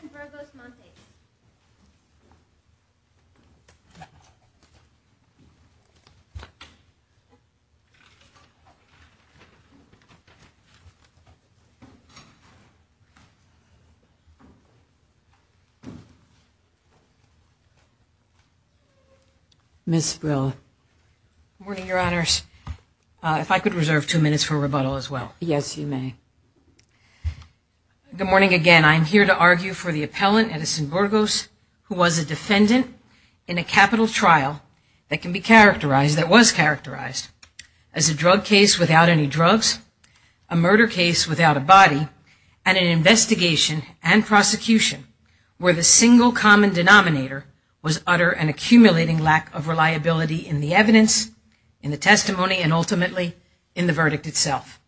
Good morning, Your Honors. If I could reserve two minutes for rebuttal as well. Yes, you may. Good morning again. I'm here to argue for the appellant, Edison Burgos, who was a defendant in a capital trial that can be characterized, that was characterized as a drug case without any drugs, a murder case without a body, and an investigation and prosecution where the single common denominator was utter and accumulating lack of reliability in the evidence, in the testimony, and ultimately in the verdict itself.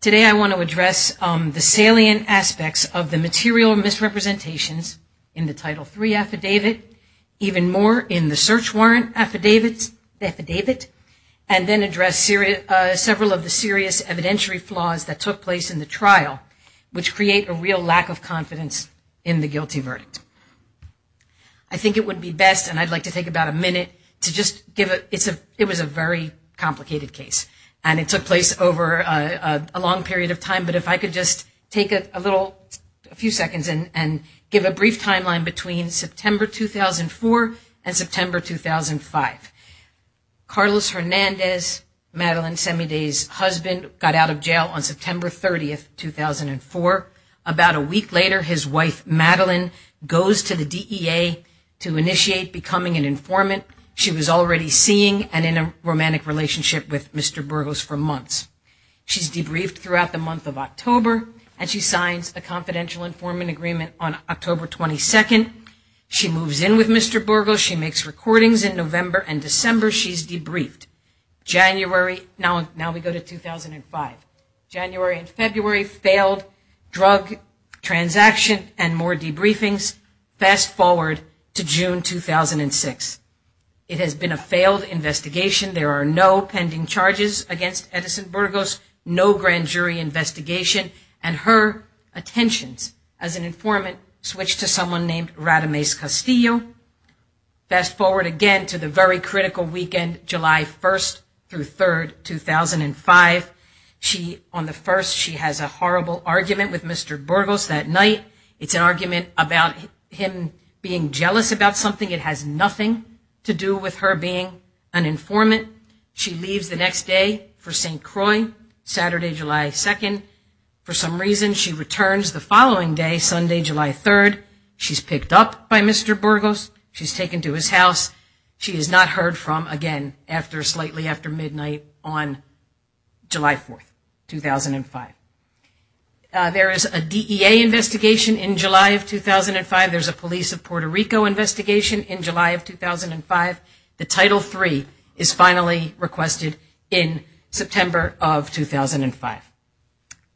Today I want to address the salient aspects of the material misrepresentations in the Title III affidavit, even more in the search warrant affidavit, and then address several of the serious evidentiary flaws that took place in the trial, which create a real lack of confidence in the guilty verdict. I think it would be best, and I'd like to take about a minute to just give a, it's a, it was a very complicated case, and it took place over a long period of time, but if I could just take a little, a few seconds and give a brief timeline between September 2004 and September 2005. Carlos Hernandez, Madeline Semide's husband, got out of jail on September 30, 2004. About a week later, his wife, Madeline, goes to the DEA to initiate becoming an informant. She was already seeing and in a romantic relationship with Mr. Burgos for months. She's debriefed throughout the month of October, and she signs a confidential informant agreement on October 22nd. She moves in with Mr. Burgos. She makes recordings in November and December. She's debriefed. January, now we go to 2005. January and February, failed drug transaction and more debriefings. Fast forward to June 2006. It has been a failed investigation. There are no pending charges against Edison Burgos, no grand jury investigation, and her attentions as an informant switch to someone named Radames Castillo. Fast forward again to the very critical weekend, July 1st through 3rd, 2005. She, on the first, she has a horrible argument with Mr. Burgos that night. It's an argument about him being jealous about something. It has nothing to do with her being an informant. She leaves the next day for St. Croix, Saturday, July 2nd. For some reason, she returns the following day, Sunday, July 3rd. She's picked up by Mr. Burgos. She's taken to his house. She is not heard from again after slightly after midnight on July 4th, 2005. There is a DEA investigation in July of 2005. There's a police of Puerto Rico investigation in July of 2005. The Title III is finally requested in September of 2005.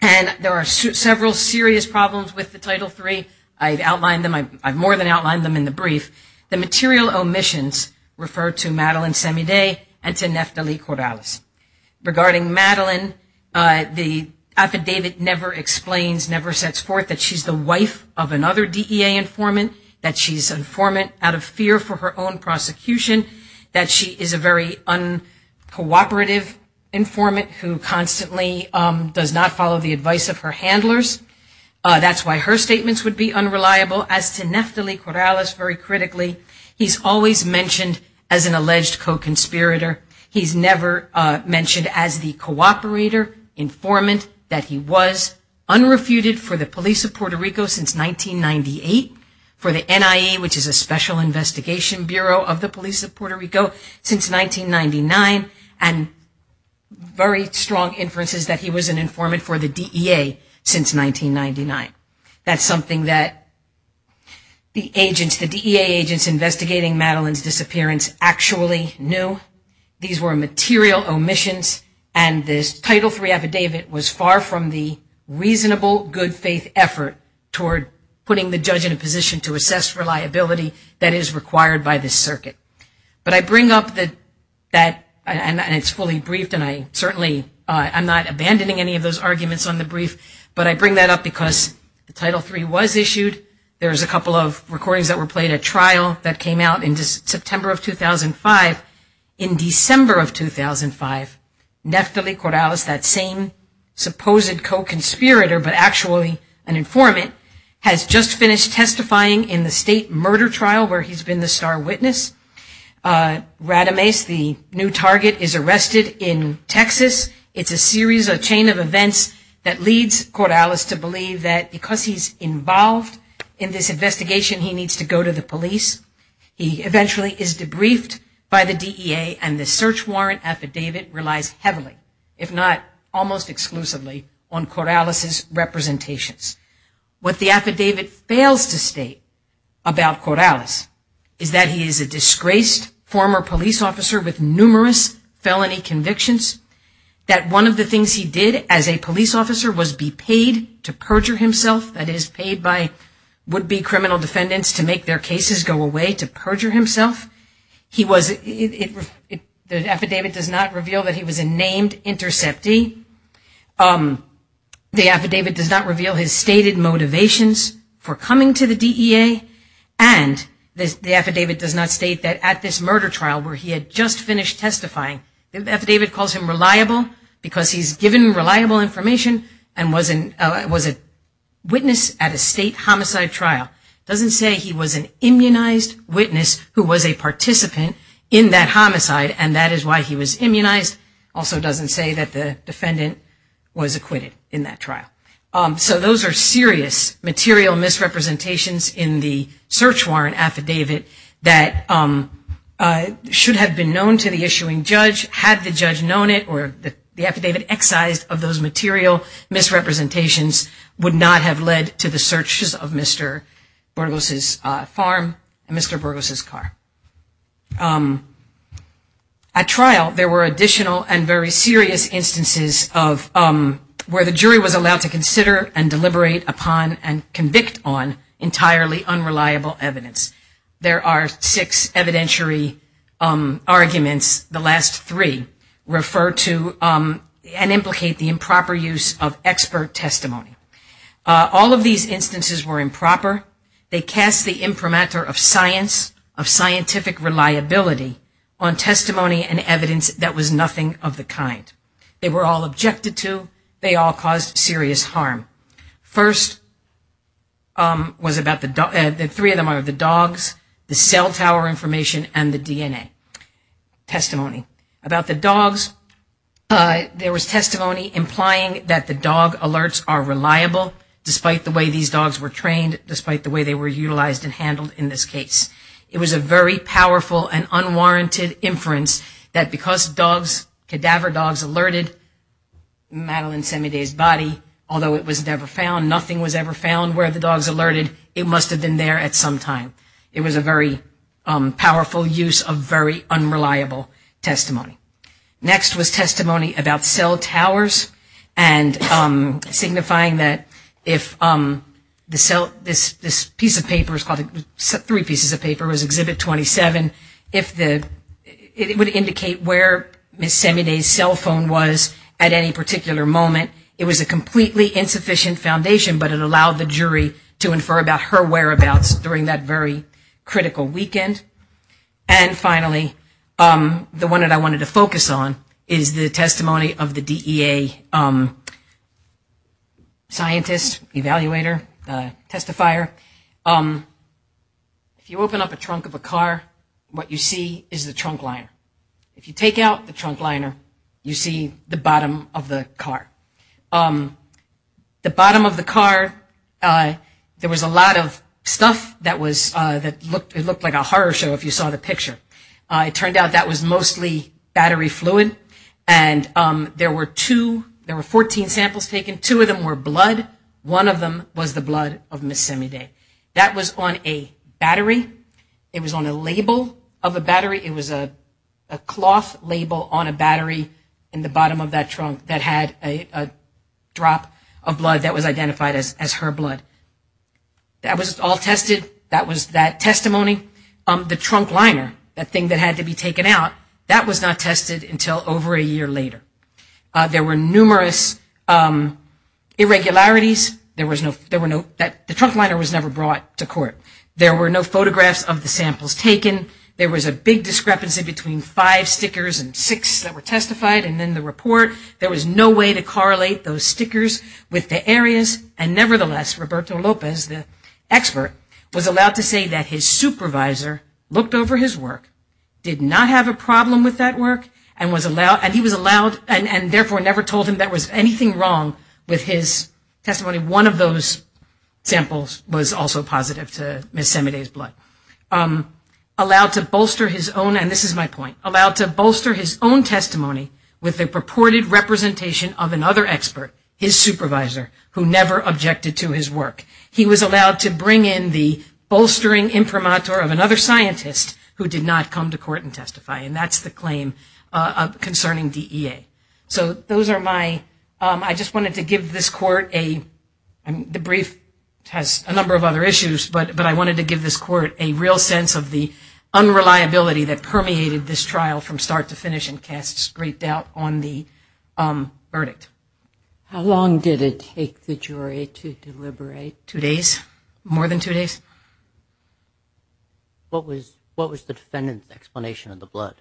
And there are several serious problems with the Title III. I've outlined them. I've more than outlined them in the brief. The material omissions refer to Madeline Semide and to Neftali Corrales. Regarding Madeline, the affidavit never explains, never sets forth that she's the wife of another DEA informant, that she's an informant out of fear for her own prosecution, that she is a very uncooperative informant who constantly, does not follow the advice of her handlers. That's why her statements would be unreliable. As to Neftali Corrales, very critically, he's always mentioned as an alleged co-conspirator. He's never mentioned as the cooperator informant that he was unrefuted for the police of Puerto Rico since 1998, for the NIA, which is a special investigation bureau of the police of Puerto Rico, since 1999. And very strong inferences that he was an informant for the DEA since 1999. That's something that the agents, the DEA agents investigating Madeline's disappearance actually knew. These were material omissions and this Title III affidavit was far from the reasonable, good faith effort toward putting the judge in a position to assess reliability that is required by this circuit. But I bring up that, and it's fully briefed and I certainly, I'm not abandoning any of those arguments on the brief, but I bring that up because the Title III was issued. There's a couple of recordings that were played at trial that came out in September of 2005. In December of 2005, Neftali Corrales, that same supposed co-conspirator, but actually an informant, has just finished testifying in the state murder trial where he's been the star witness. Radames, the new target, is arrested in Texas. It's a series, a chain of events that leads Corrales to believe that because he's involved in this investigation, he needs to go to the police. He eventually is debriefed by the DEA and the search warrant affidavit relies heavily, if not almost exclusively, on Corrales' representations. What the affidavit fails to state about Corrales is that he is a disgraced former police officer with numerous felony convictions, that one of the things he did as a police officer was be paid to perjure himself, that is paid by would-be criminal defendants to make their cases go away, to perjure himself. The affidavit does not reveal that he was a named interceptee, the affidavit does not reveal his stated motivations for coming to the DEA, and the affidavit does not state that at this murder trial where he had just finished testifying, the affidavit calls him reliable because he's given reliable information and was a witness at a state homicide trial. It doesn't say he was an immunized witness who was a participant in that homicide and that is why he was immunized. It also doesn't say that the defendant was acquitted in that trial. So those are serious material misrepresentations in the search warrant affidavit that should have been known to the issuing judge had the judge known it or the affidavit excised of those material misrepresentations would not have led to the searches of Mr. Burgos' farm and Mr. Burgos' car. At trial there were additional and very serious instances of where the jury was allowed to consider and deliberate upon and convict on entirely unreliable evidence. There are six evidentiary arguments, the last three refer to and implicate the improper use of expert testimony. All of these instances were improper. They cast the imprimatur of science, of scientific reliability on testimony and evidence that was nothing of the kind. They were all objected to. They all caused serious harm. First was about the three of them are the dogs, the cell tower information, and the DNA testimony. About the dogs, there was testimony implying that the dog alerts are reliable despite the way these dogs were trained, despite the way they were utilized and handled in this case. It was a very powerful and unwarranted inference that because dogs, cadaver dogs alerted Madeline Semide's body, although it was never found, nothing was ever found where the dogs alerted, it must have been there at some time. It was a very powerful use of very unreliable testimony. Next was testimony about cell towers and signifying that if this piece of paper, three pieces of paper, was Exhibit 27, it would indicate where Ms. Semide's cell phone was at any particular moment. It was a completely insufficient foundation, but it allowed the jury to infer about her whereabouts during that very critical weekend. And finally, the one that I wanted to focus on is the testimony of the DEA scientist, evaluator, testifier. If you open up a trunk of a car, what you see is the trunk liner. If you take out the trunk liner, you see the bottom of the car. The bottom of the car, there was a lot of stuff that looked like a horror show if you saw the picture. It turned out that was mostly battery fluid, and there were two, there were 14 samples taken. Two of them were blood. One of them was the blood of Ms. Semide. That was on a battery. It was on a label of a battery. It was a cloth label on a battery in the bottom of that trunk that had a drop of blood that was identified as her blood. That was all tested. That was that testimony. The trunk liner, that thing that had to be taken out, that was not tested until over a year later. There were numerous irregularities. The trunk liner was never brought to court. There were no photographs of the samples taken. There was a big discrepancy between five stickers and six that were testified, and then the report. There was no way to correlate those stickers with the areas, and nevertheless, Roberto Lopez, the expert, was allowed to say that his supervisor looked over his work, did not have a problem with that work, and therefore never told him there was anything wrong with his testimony. One of those samples was also positive to Ms. Semide's blood. Allowed to bolster his own, and this is my point, allowed to bolster his own testimony with the purported representation of another expert, his supervisor, who never objected to his work. He was allowed to bring in the bolstering imprimatur of another scientist who did not come to court and testify, and that's the claim concerning DEA. So those are my, I just wanted to give this court a, the brief has a number of other issues, but I wanted to give this court a real sense of the unreliability that permeated this trial from start to finish and cast great doubt on the verdict. How long did it take the jury to deliberate? Two days, more than two days. What was the defendant's explanation of the blood?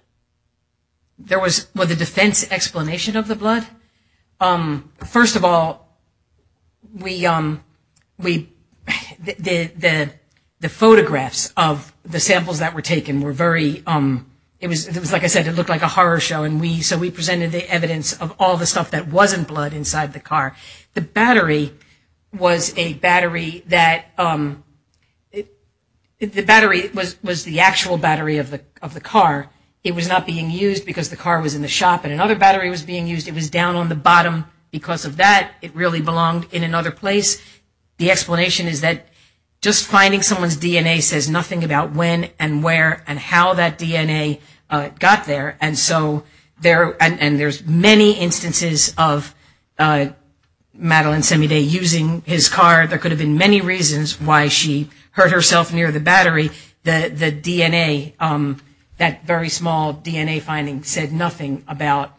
There was, was the defense explanation of the blood? First of all, we, the photographs of the samples that were taken were very, it was, like I said, it looked like a horror show, and we, so we presented the evidence of all the stuff that wasn't blood inside the car. The battery was a battery that, the battery was the actual battery of the car. It was not being used because the car was in the shop, and another battery was being used. It was down on the bottom because of that. It really belonged in another place. The explanation is that just finding someone's DNA says nothing about when and where and how that DNA got there, and so there, and there's many instances of Madeline Semide using his car. There could have been many reasons why she hurt herself near the battery. The DNA, that very small DNA finding said nothing about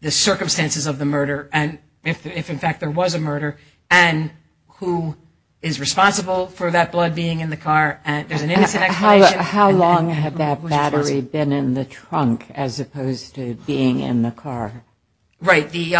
the circumstances of the murder and if in fact there was a murder and who is responsible for that blood being in the car. How long had that battery been in the trunk as opposed to being in the car? Right. The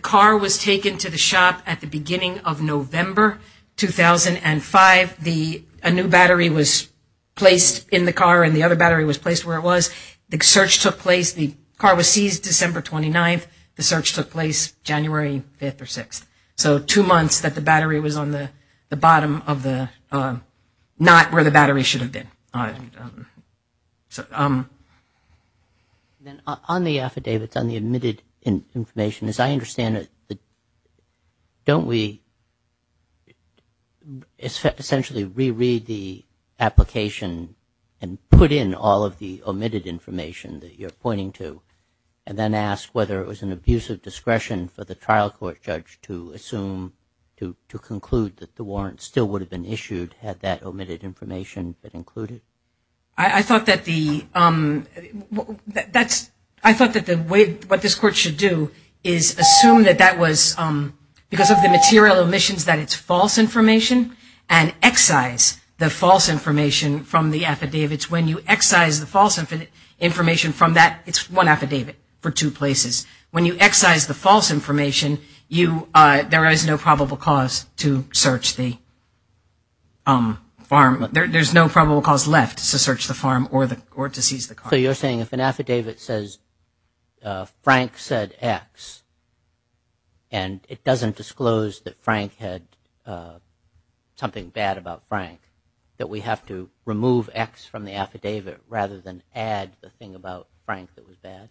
car was taken to the shop at the beginning of November 2005. A new battery was placed in the car, and the other battery was placed where it was. The search took place, the car was seized December 29th. The search took place January 5th or 6th. So two months that the battery was on the bottom of the, not where the battery should have been. On the affidavits, on the omitted information, as I understand it, don't we essentially reread the application and put in all of the omitted information that you're pointing to and then ask whether it was an abuse of discretion for the trial court judge to assume, to conclude that the warrant still would have been issued had that omitted information been included? I thought that the, that's, I thought that the way, what this court should do is assume that that was, because of the material omissions that it's false information and excise the false information from the affidavits. When you excise the false information from that, it's one affidavit for two places. When you excise the false information, you, there is no probable cause to search the farm. There's no probable cause left to search the farm or to seize the car. So you're saying if an affidavit says Frank said X, and it doesn't disclose that Frank had something bad about Frank, that we have to remove X from the affidavit rather than add the thing about Frank that was bad?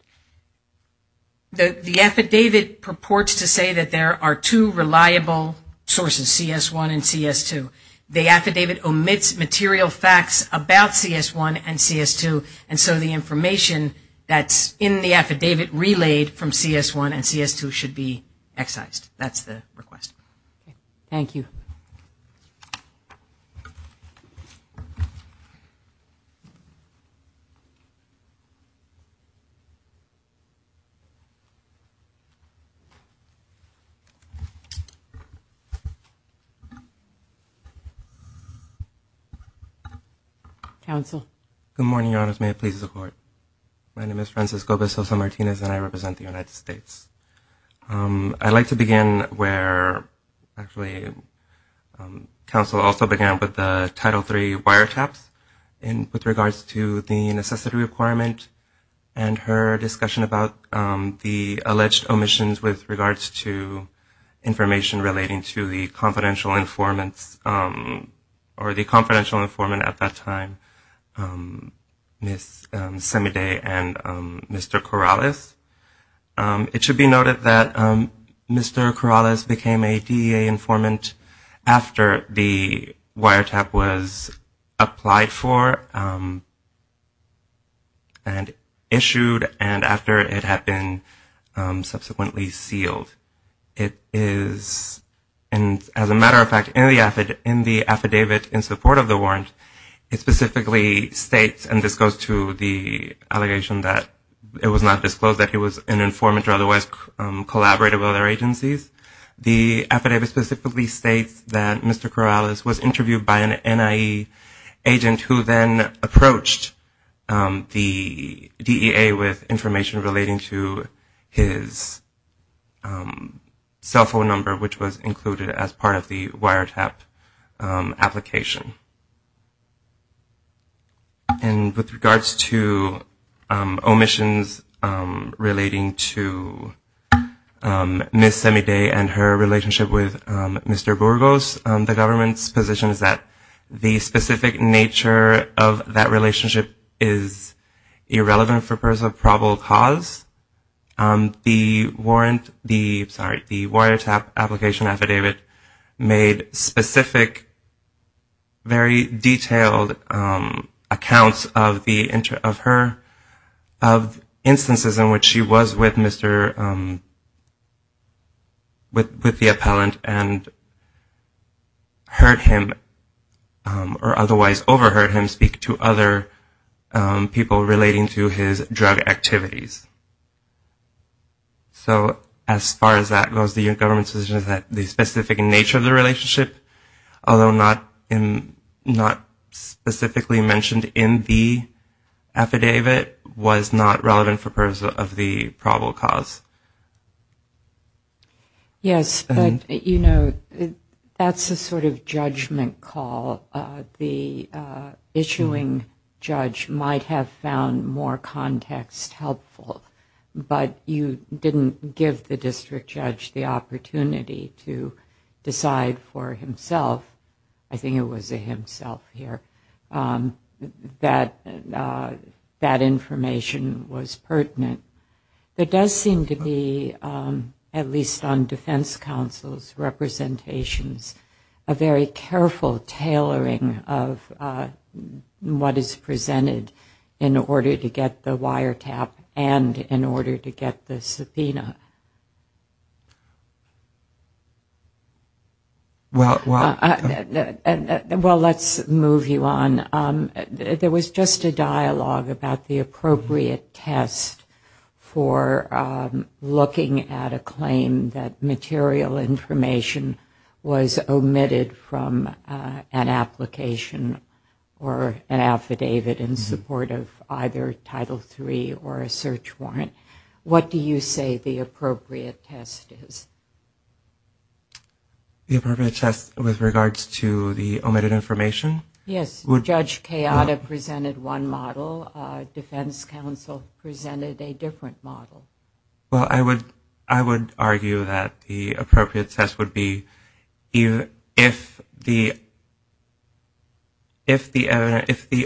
The affidavit purports to say that there are two reliable sources, CS1 and CS2. The affidavit omits material facts about CS1 and CS2, and so the information that's in the affidavit relayed from CS1 and CS2 should be excised. That's the request. Thank you. Counsel. Good morning, Your Honors. May it please the Court. My name is Francisco Bezos Martinez, and I represent the United States. I'd like to begin where actually counsel also began with the Title III wiretaps with regards to the necessity requirement and her discussion about the alleged omissions with regards to information relating to the confidential informants or the confidential informant at that time, Ms. Semide and Mr. Corrales. It should be noted that Mr. Corrales became a DEA informant after the wiretap was applied for and issued and after it had been subsequently sealed. It is, as a matter of fact, in the affidavit in support of the warrant, it specifically states, and this goes to the allegation that it was not disclosed that he was an informant or otherwise collaborated with other agencies. The affidavit specifically states that Mr. Corrales was interviewed by an NIE agent who then approached the DEA with information relating to his cell phone number, which was included as part of the wiretap application. And with regards to omissions relating to Ms. Semide and her relationship with Mr. Burgos, the government's position is that the specific nature of that relationship is irrelevant for personal probable cause. The warrant, sorry, the wiretap application affidavit made specific, very detailed accounts of her instances in which she was with the appellant and heard him or otherwise overheard him speak to other people relating to his drug activities. So as far as that goes, the government's position is that the specific nature of the relationship, although not specifically mentioned in the affidavit, was not relevant for purpose of the probable cause. Yes, but, you know, that's a sort of judgment call. The issuing judge might have found more context helpful, but you didn't give the district judge the opportunity to decide for himself, I think it was a himself here, that that information was pertinent. There does seem to be, at least on defense counsel's representations, a very careful tailoring of what is presented in order to get the wiretap and in order to get the subpoena. Well, let's move you on. There was just a dialogue about the appropriate test for looking at a claim that material information was omitted from an application or an affidavit in support of either Title III or a search warrant. What do you say the appropriate test is? The appropriate test with regards to the omitted information? Yes, Judge Kayada presented one model, defense counsel presented a different model. Well, I would argue that the appropriate test would be if the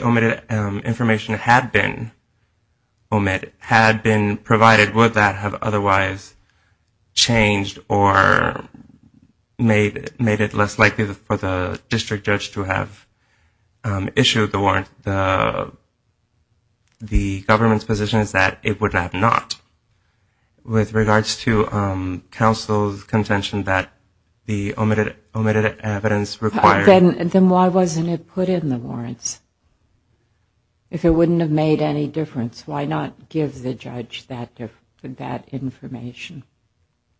omitted information had been provided, would that have otherwise changed or made it less likely for the district judge to have issued the warrant? The government's position is that it would have not. With regards to counsel's contention that the omitted evidence required... Then why wasn't it put in the warrants? If it wouldn't have made any difference, why not give the judge that information?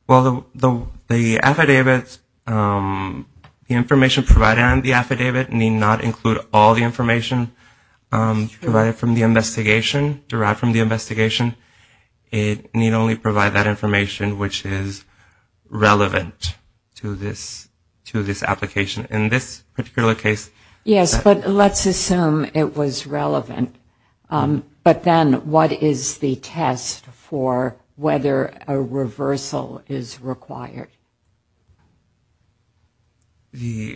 Well, the affidavit, the information provided on the affidavit need not include all the information provided from the investigation, derived from the investigation. It need only provide that information which is relevant to this application. In this particular case... Yes, but let's assume it was relevant, but then what is the test for whether a reversal is required? Are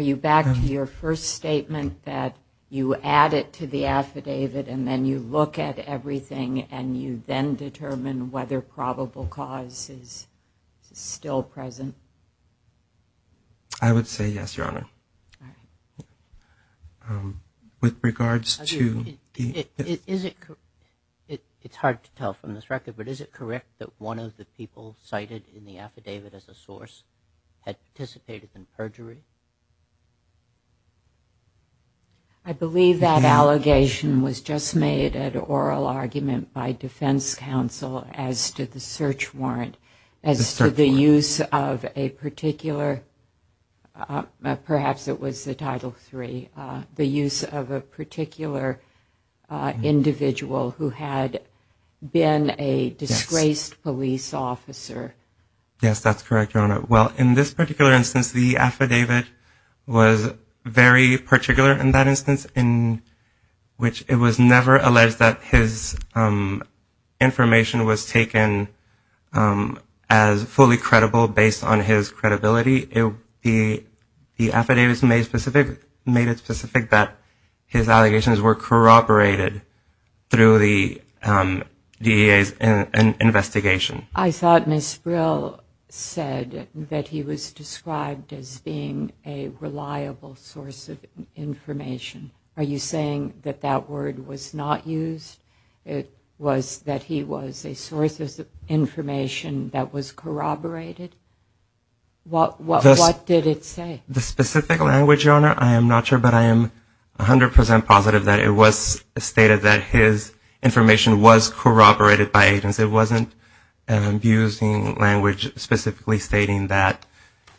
you back to your first statement that you add it to the affidavit and then you look at everything and you then determine whether probable cause is still there? I would say yes, Your Honor. With regards to... It's hard to tell from this record, but is it correct that one of the people cited in the affidavit as a source had participated in perjury? I believe that allegation was just made an oral argument by defense counsel as to the search warrant. As to the use of a particular, perhaps it was the Title III, the use of a particular individual who had been a disgraced police officer. Yes, that's correct, Your Honor. Well, in this particular instance, the affidavit was very particular in that instance, in which it was never alleged that his information was taken from the police. As fully credible based on his credibility, the affidavit made it specific that his allegations were corroborated through the DEA's investigation. I thought Ms. Brill said that he was described as being a reliable source of information. Are you saying that that word was not used? That was corroborated? What did it say? The specific language, Your Honor, I am not sure, but I am 100% positive that it was stated that his information was corroborated by agents. It wasn't an abusing language specifically stating that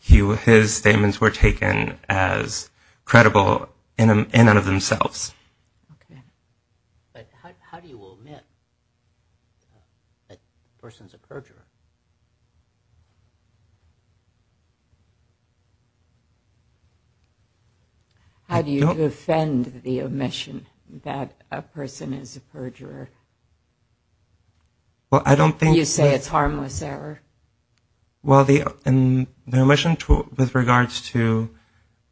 his statements were taken as credible in and of themselves. How do you defend the omission that a person is a perjurer? You say it's harmless error. Well, the omission with regards to,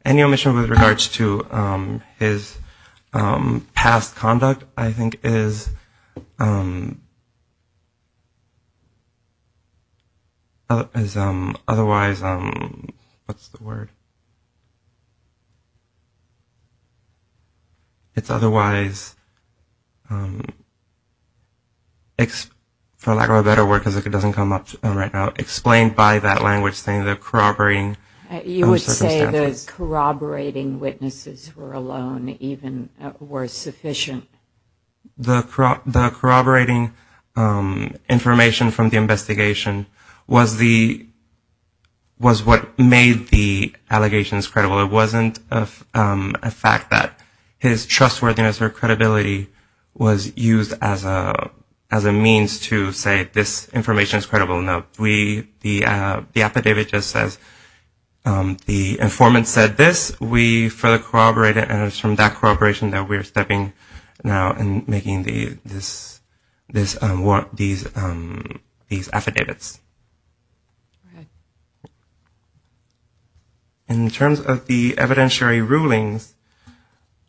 any omission with regards to his past conduct, I think is... Otherwise, what's the word? It's otherwise, for lack of a better word, because it doesn't come up right now, explained by that language saying the corroborating circumstances. You would say those corroborating witnesses were alone, even were sufficient. The corroborating information from the investigation was what made the allegations credible. It wasn't a fact that his trustworthiness or credibility was used as a means to say this information is credible. No, the affidavit just says the informant said this. We further corroborated, and it's from that corroboration that we're stepping now and making these affidavits. In terms of the evidentiary rulings,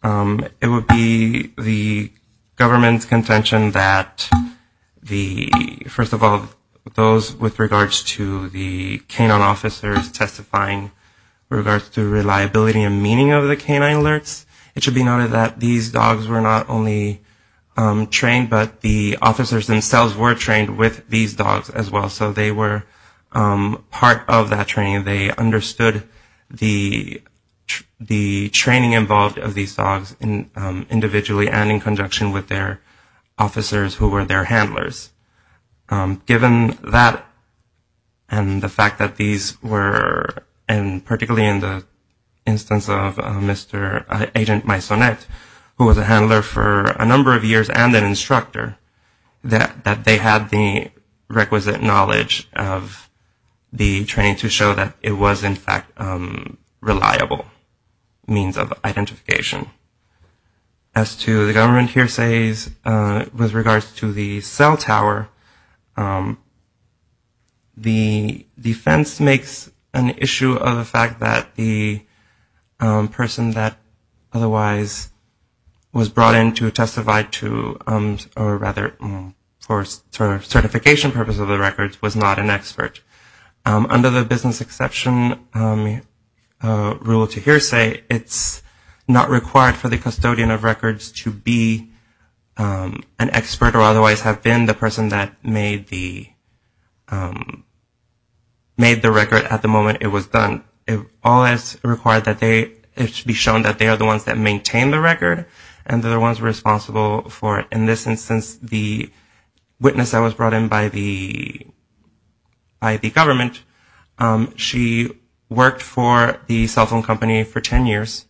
it would be the government's contention that, first of all, those with regards to the K-9 officers testifying, with regards to reliability and meaning of the K-9 alerts, it should be noted that these dogs were not only trained, but the officers themselves were trained with these dogs as well. So they were part of that training. They understood the training involved of these dogs individually and in conjunction with their officers who were their handlers. Given that and the fact that these were, and particularly in the instance of Mr. Agent Maisonette, who was a handler for a number of years and an instructor, that they had the requisite knowledge of the training to show that it was, in fact, reliable means of identification. As to the government hearsays with regards to the cell tower, the defense makes an issue of the fact that the person that otherwise was brought in to testify to, or rather for certification purpose of the records, was not an expert. Under the business exception rule to hearsay, it's not required for the custodian of records to be an expert or otherwise have been the person that made the record at the moment it was done. All that's required is to be shown that they are the ones that maintain the record and the ones responsible for it. And so I'm going to talk a little bit about Ms. Maisonette. Ms. Maisonette has been with us since the witness that was brought in by the government. She worked for the cell phone company for 10 years.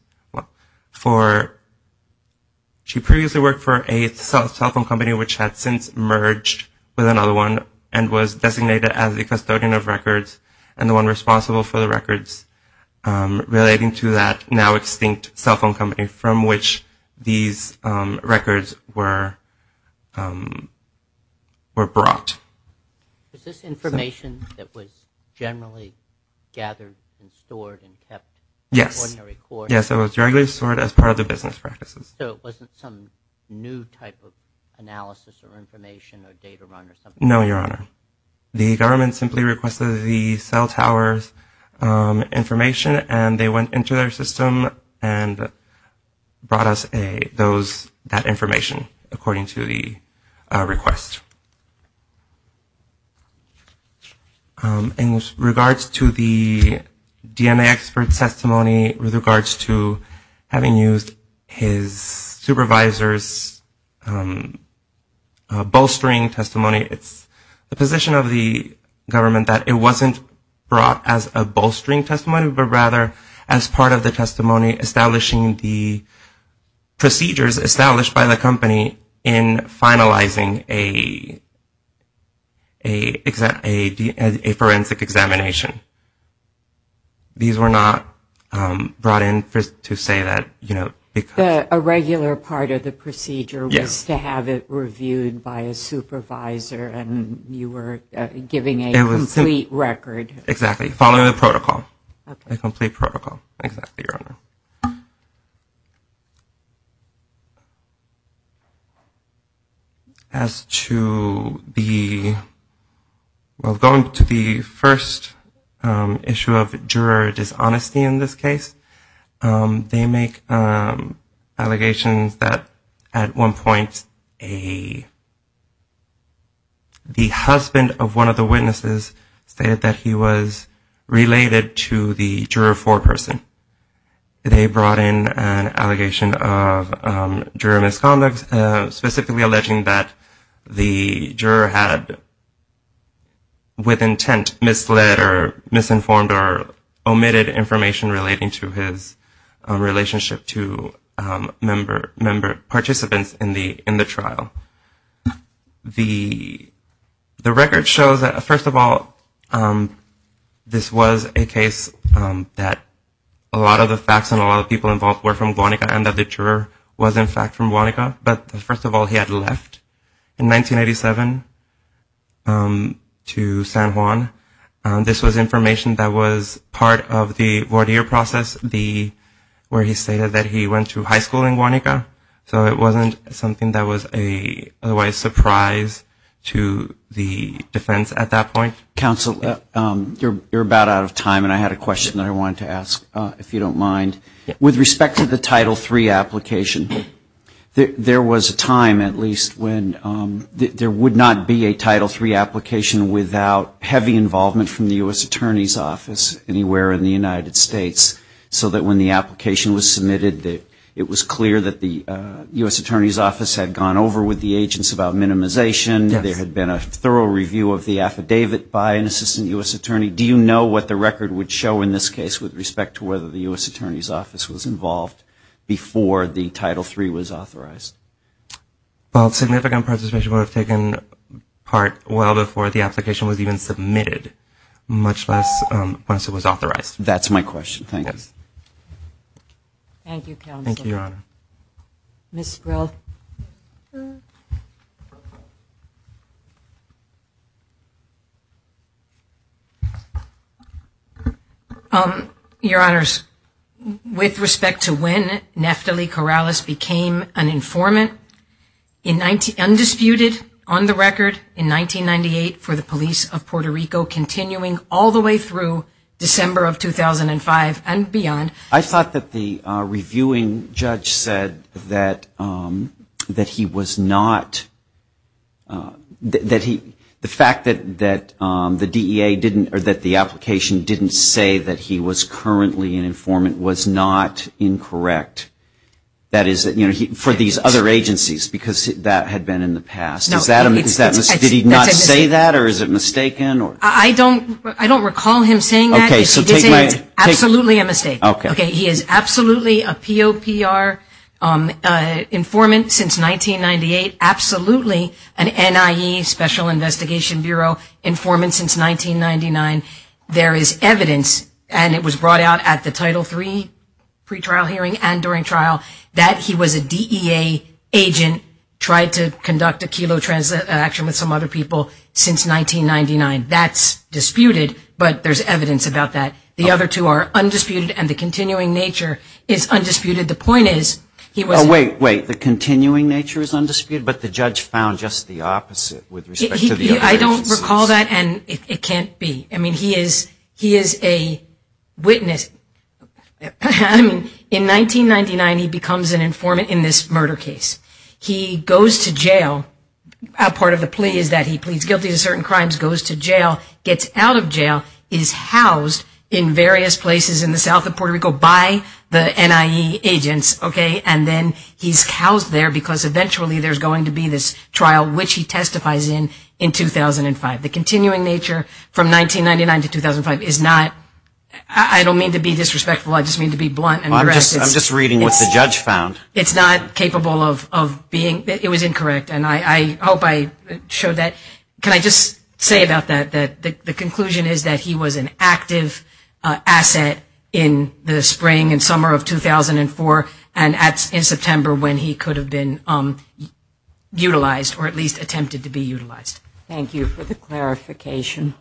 She previously worked for a cell phone company which had since merged with another one and was designated as the custodian of records and the one responsible for the records relating to that now extinct cell phone company from which these records were made. They were brought. Was this information that was generally gathered and stored and kept? Yes, it was directly stored as part of the business practices. So it wasn't some new type of analysis or information or data run or something? No, Your Honor. The government simply requested the cell tower's information and they went into their system and brought us that information according to the request. In regards to the DNA expert's testimony with regards to having used his supervisor's bolstering testimony, it's not required. It's the position of the government that it wasn't brought as a bolstering testimony, but rather as part of the testimony establishing the procedures established by the company in finalizing a forensic examination. These were not brought in to say that, you know, because... You were giving a complete record. Exactly, following the protocol. Going to the first issue of juror dishonesty in this case. They make allegations that at one point a juror dishonesty was made. The husband of one of the witnesses stated that he was related to the juror foreperson. They brought in an allegation of juror misconduct, specifically alleging that the juror had with intent misled or misinformed or omitted information relating to his relationship to member participants in the trial. The record shows that, first of all, this was a case that a lot of the facts and a lot of the people involved were from Guanica and that the juror was in fact from Guanica. But first of all, he had left in 1987 to San Juan. This was information that was part of the voir dire process where he stated that he went to high school in Guanica. So it wasn't something that was otherwise a surprise to the defense at that point. Counsel, you're about out of time and I had a question that I wanted to ask, if you don't mind. With respect to the Title III application, there was a time at least when there would not be a Title III application without heavy involvement from the U.S. Attorney's Office anywhere in the United States. So that when the application was submitted, it was clear that the U.S. Attorney's Office had gone over with the agents about minimization. There had been a thorough review of the affidavit by an assistant U.S. attorney. Do you know what the record would show in this case with respect to whether the U.S. Attorney's Office was involved before the Title III was authorized? Well, significant participation would have taken part well before the application was even submitted, much less once it was authorized. That's my question, thank you. Thank you, Counsel. Your Honors, with respect to when Neftali Corrales became an informant, undisputed on the record in 1998 for the police of Puerto Rico, continuing all the way through December of 2001. I thought that the reviewing judge said that he was not, that the fact that the DEA didn't, or that the application didn't say that he was currently an informant was not incorrect. That is, for these other agencies, because that had been in the past. Did he not say that, or is it mistaken? I don't recall him saying that. He did say it's absolutely a mistake. He is absolutely a POPR informant since 1998, absolutely an NIE, Special Investigation Bureau informant since 1999. There is evidence, and it was brought out at the Title III pre-trial hearing and during trial, that he was a DEA agent, tried to conduct a kelo transaction with some other people since 1999. That's disputed, but there's evidence about that. The other two are undisputed, and the continuing nature is undisputed. The point is, he was... Wait, wait, the continuing nature is undisputed, but the judge found just the opposite with respect to the other agencies. I don't recall that, and it can't be. He is a witness. In 1999, he becomes an informant in this murder case. He goes to jail. Part of the plea is that he pleads guilty to certain crimes, goes to jail, gets out of jail, is housed in various places in the south of Puerto Rico by the NIE agents, and then he's housed there because eventually there's going to be this trial, which he testifies in, in 2005. The continuing nature from 1999 to 2005 is not... It was incorrect, and I hope I showed that. Can I just say about that, that the conclusion is that he was an active asset in the spring and summer of 2004, and in September when he could have been utilized, or at least attempted to be utilized. Thank you for the clarification.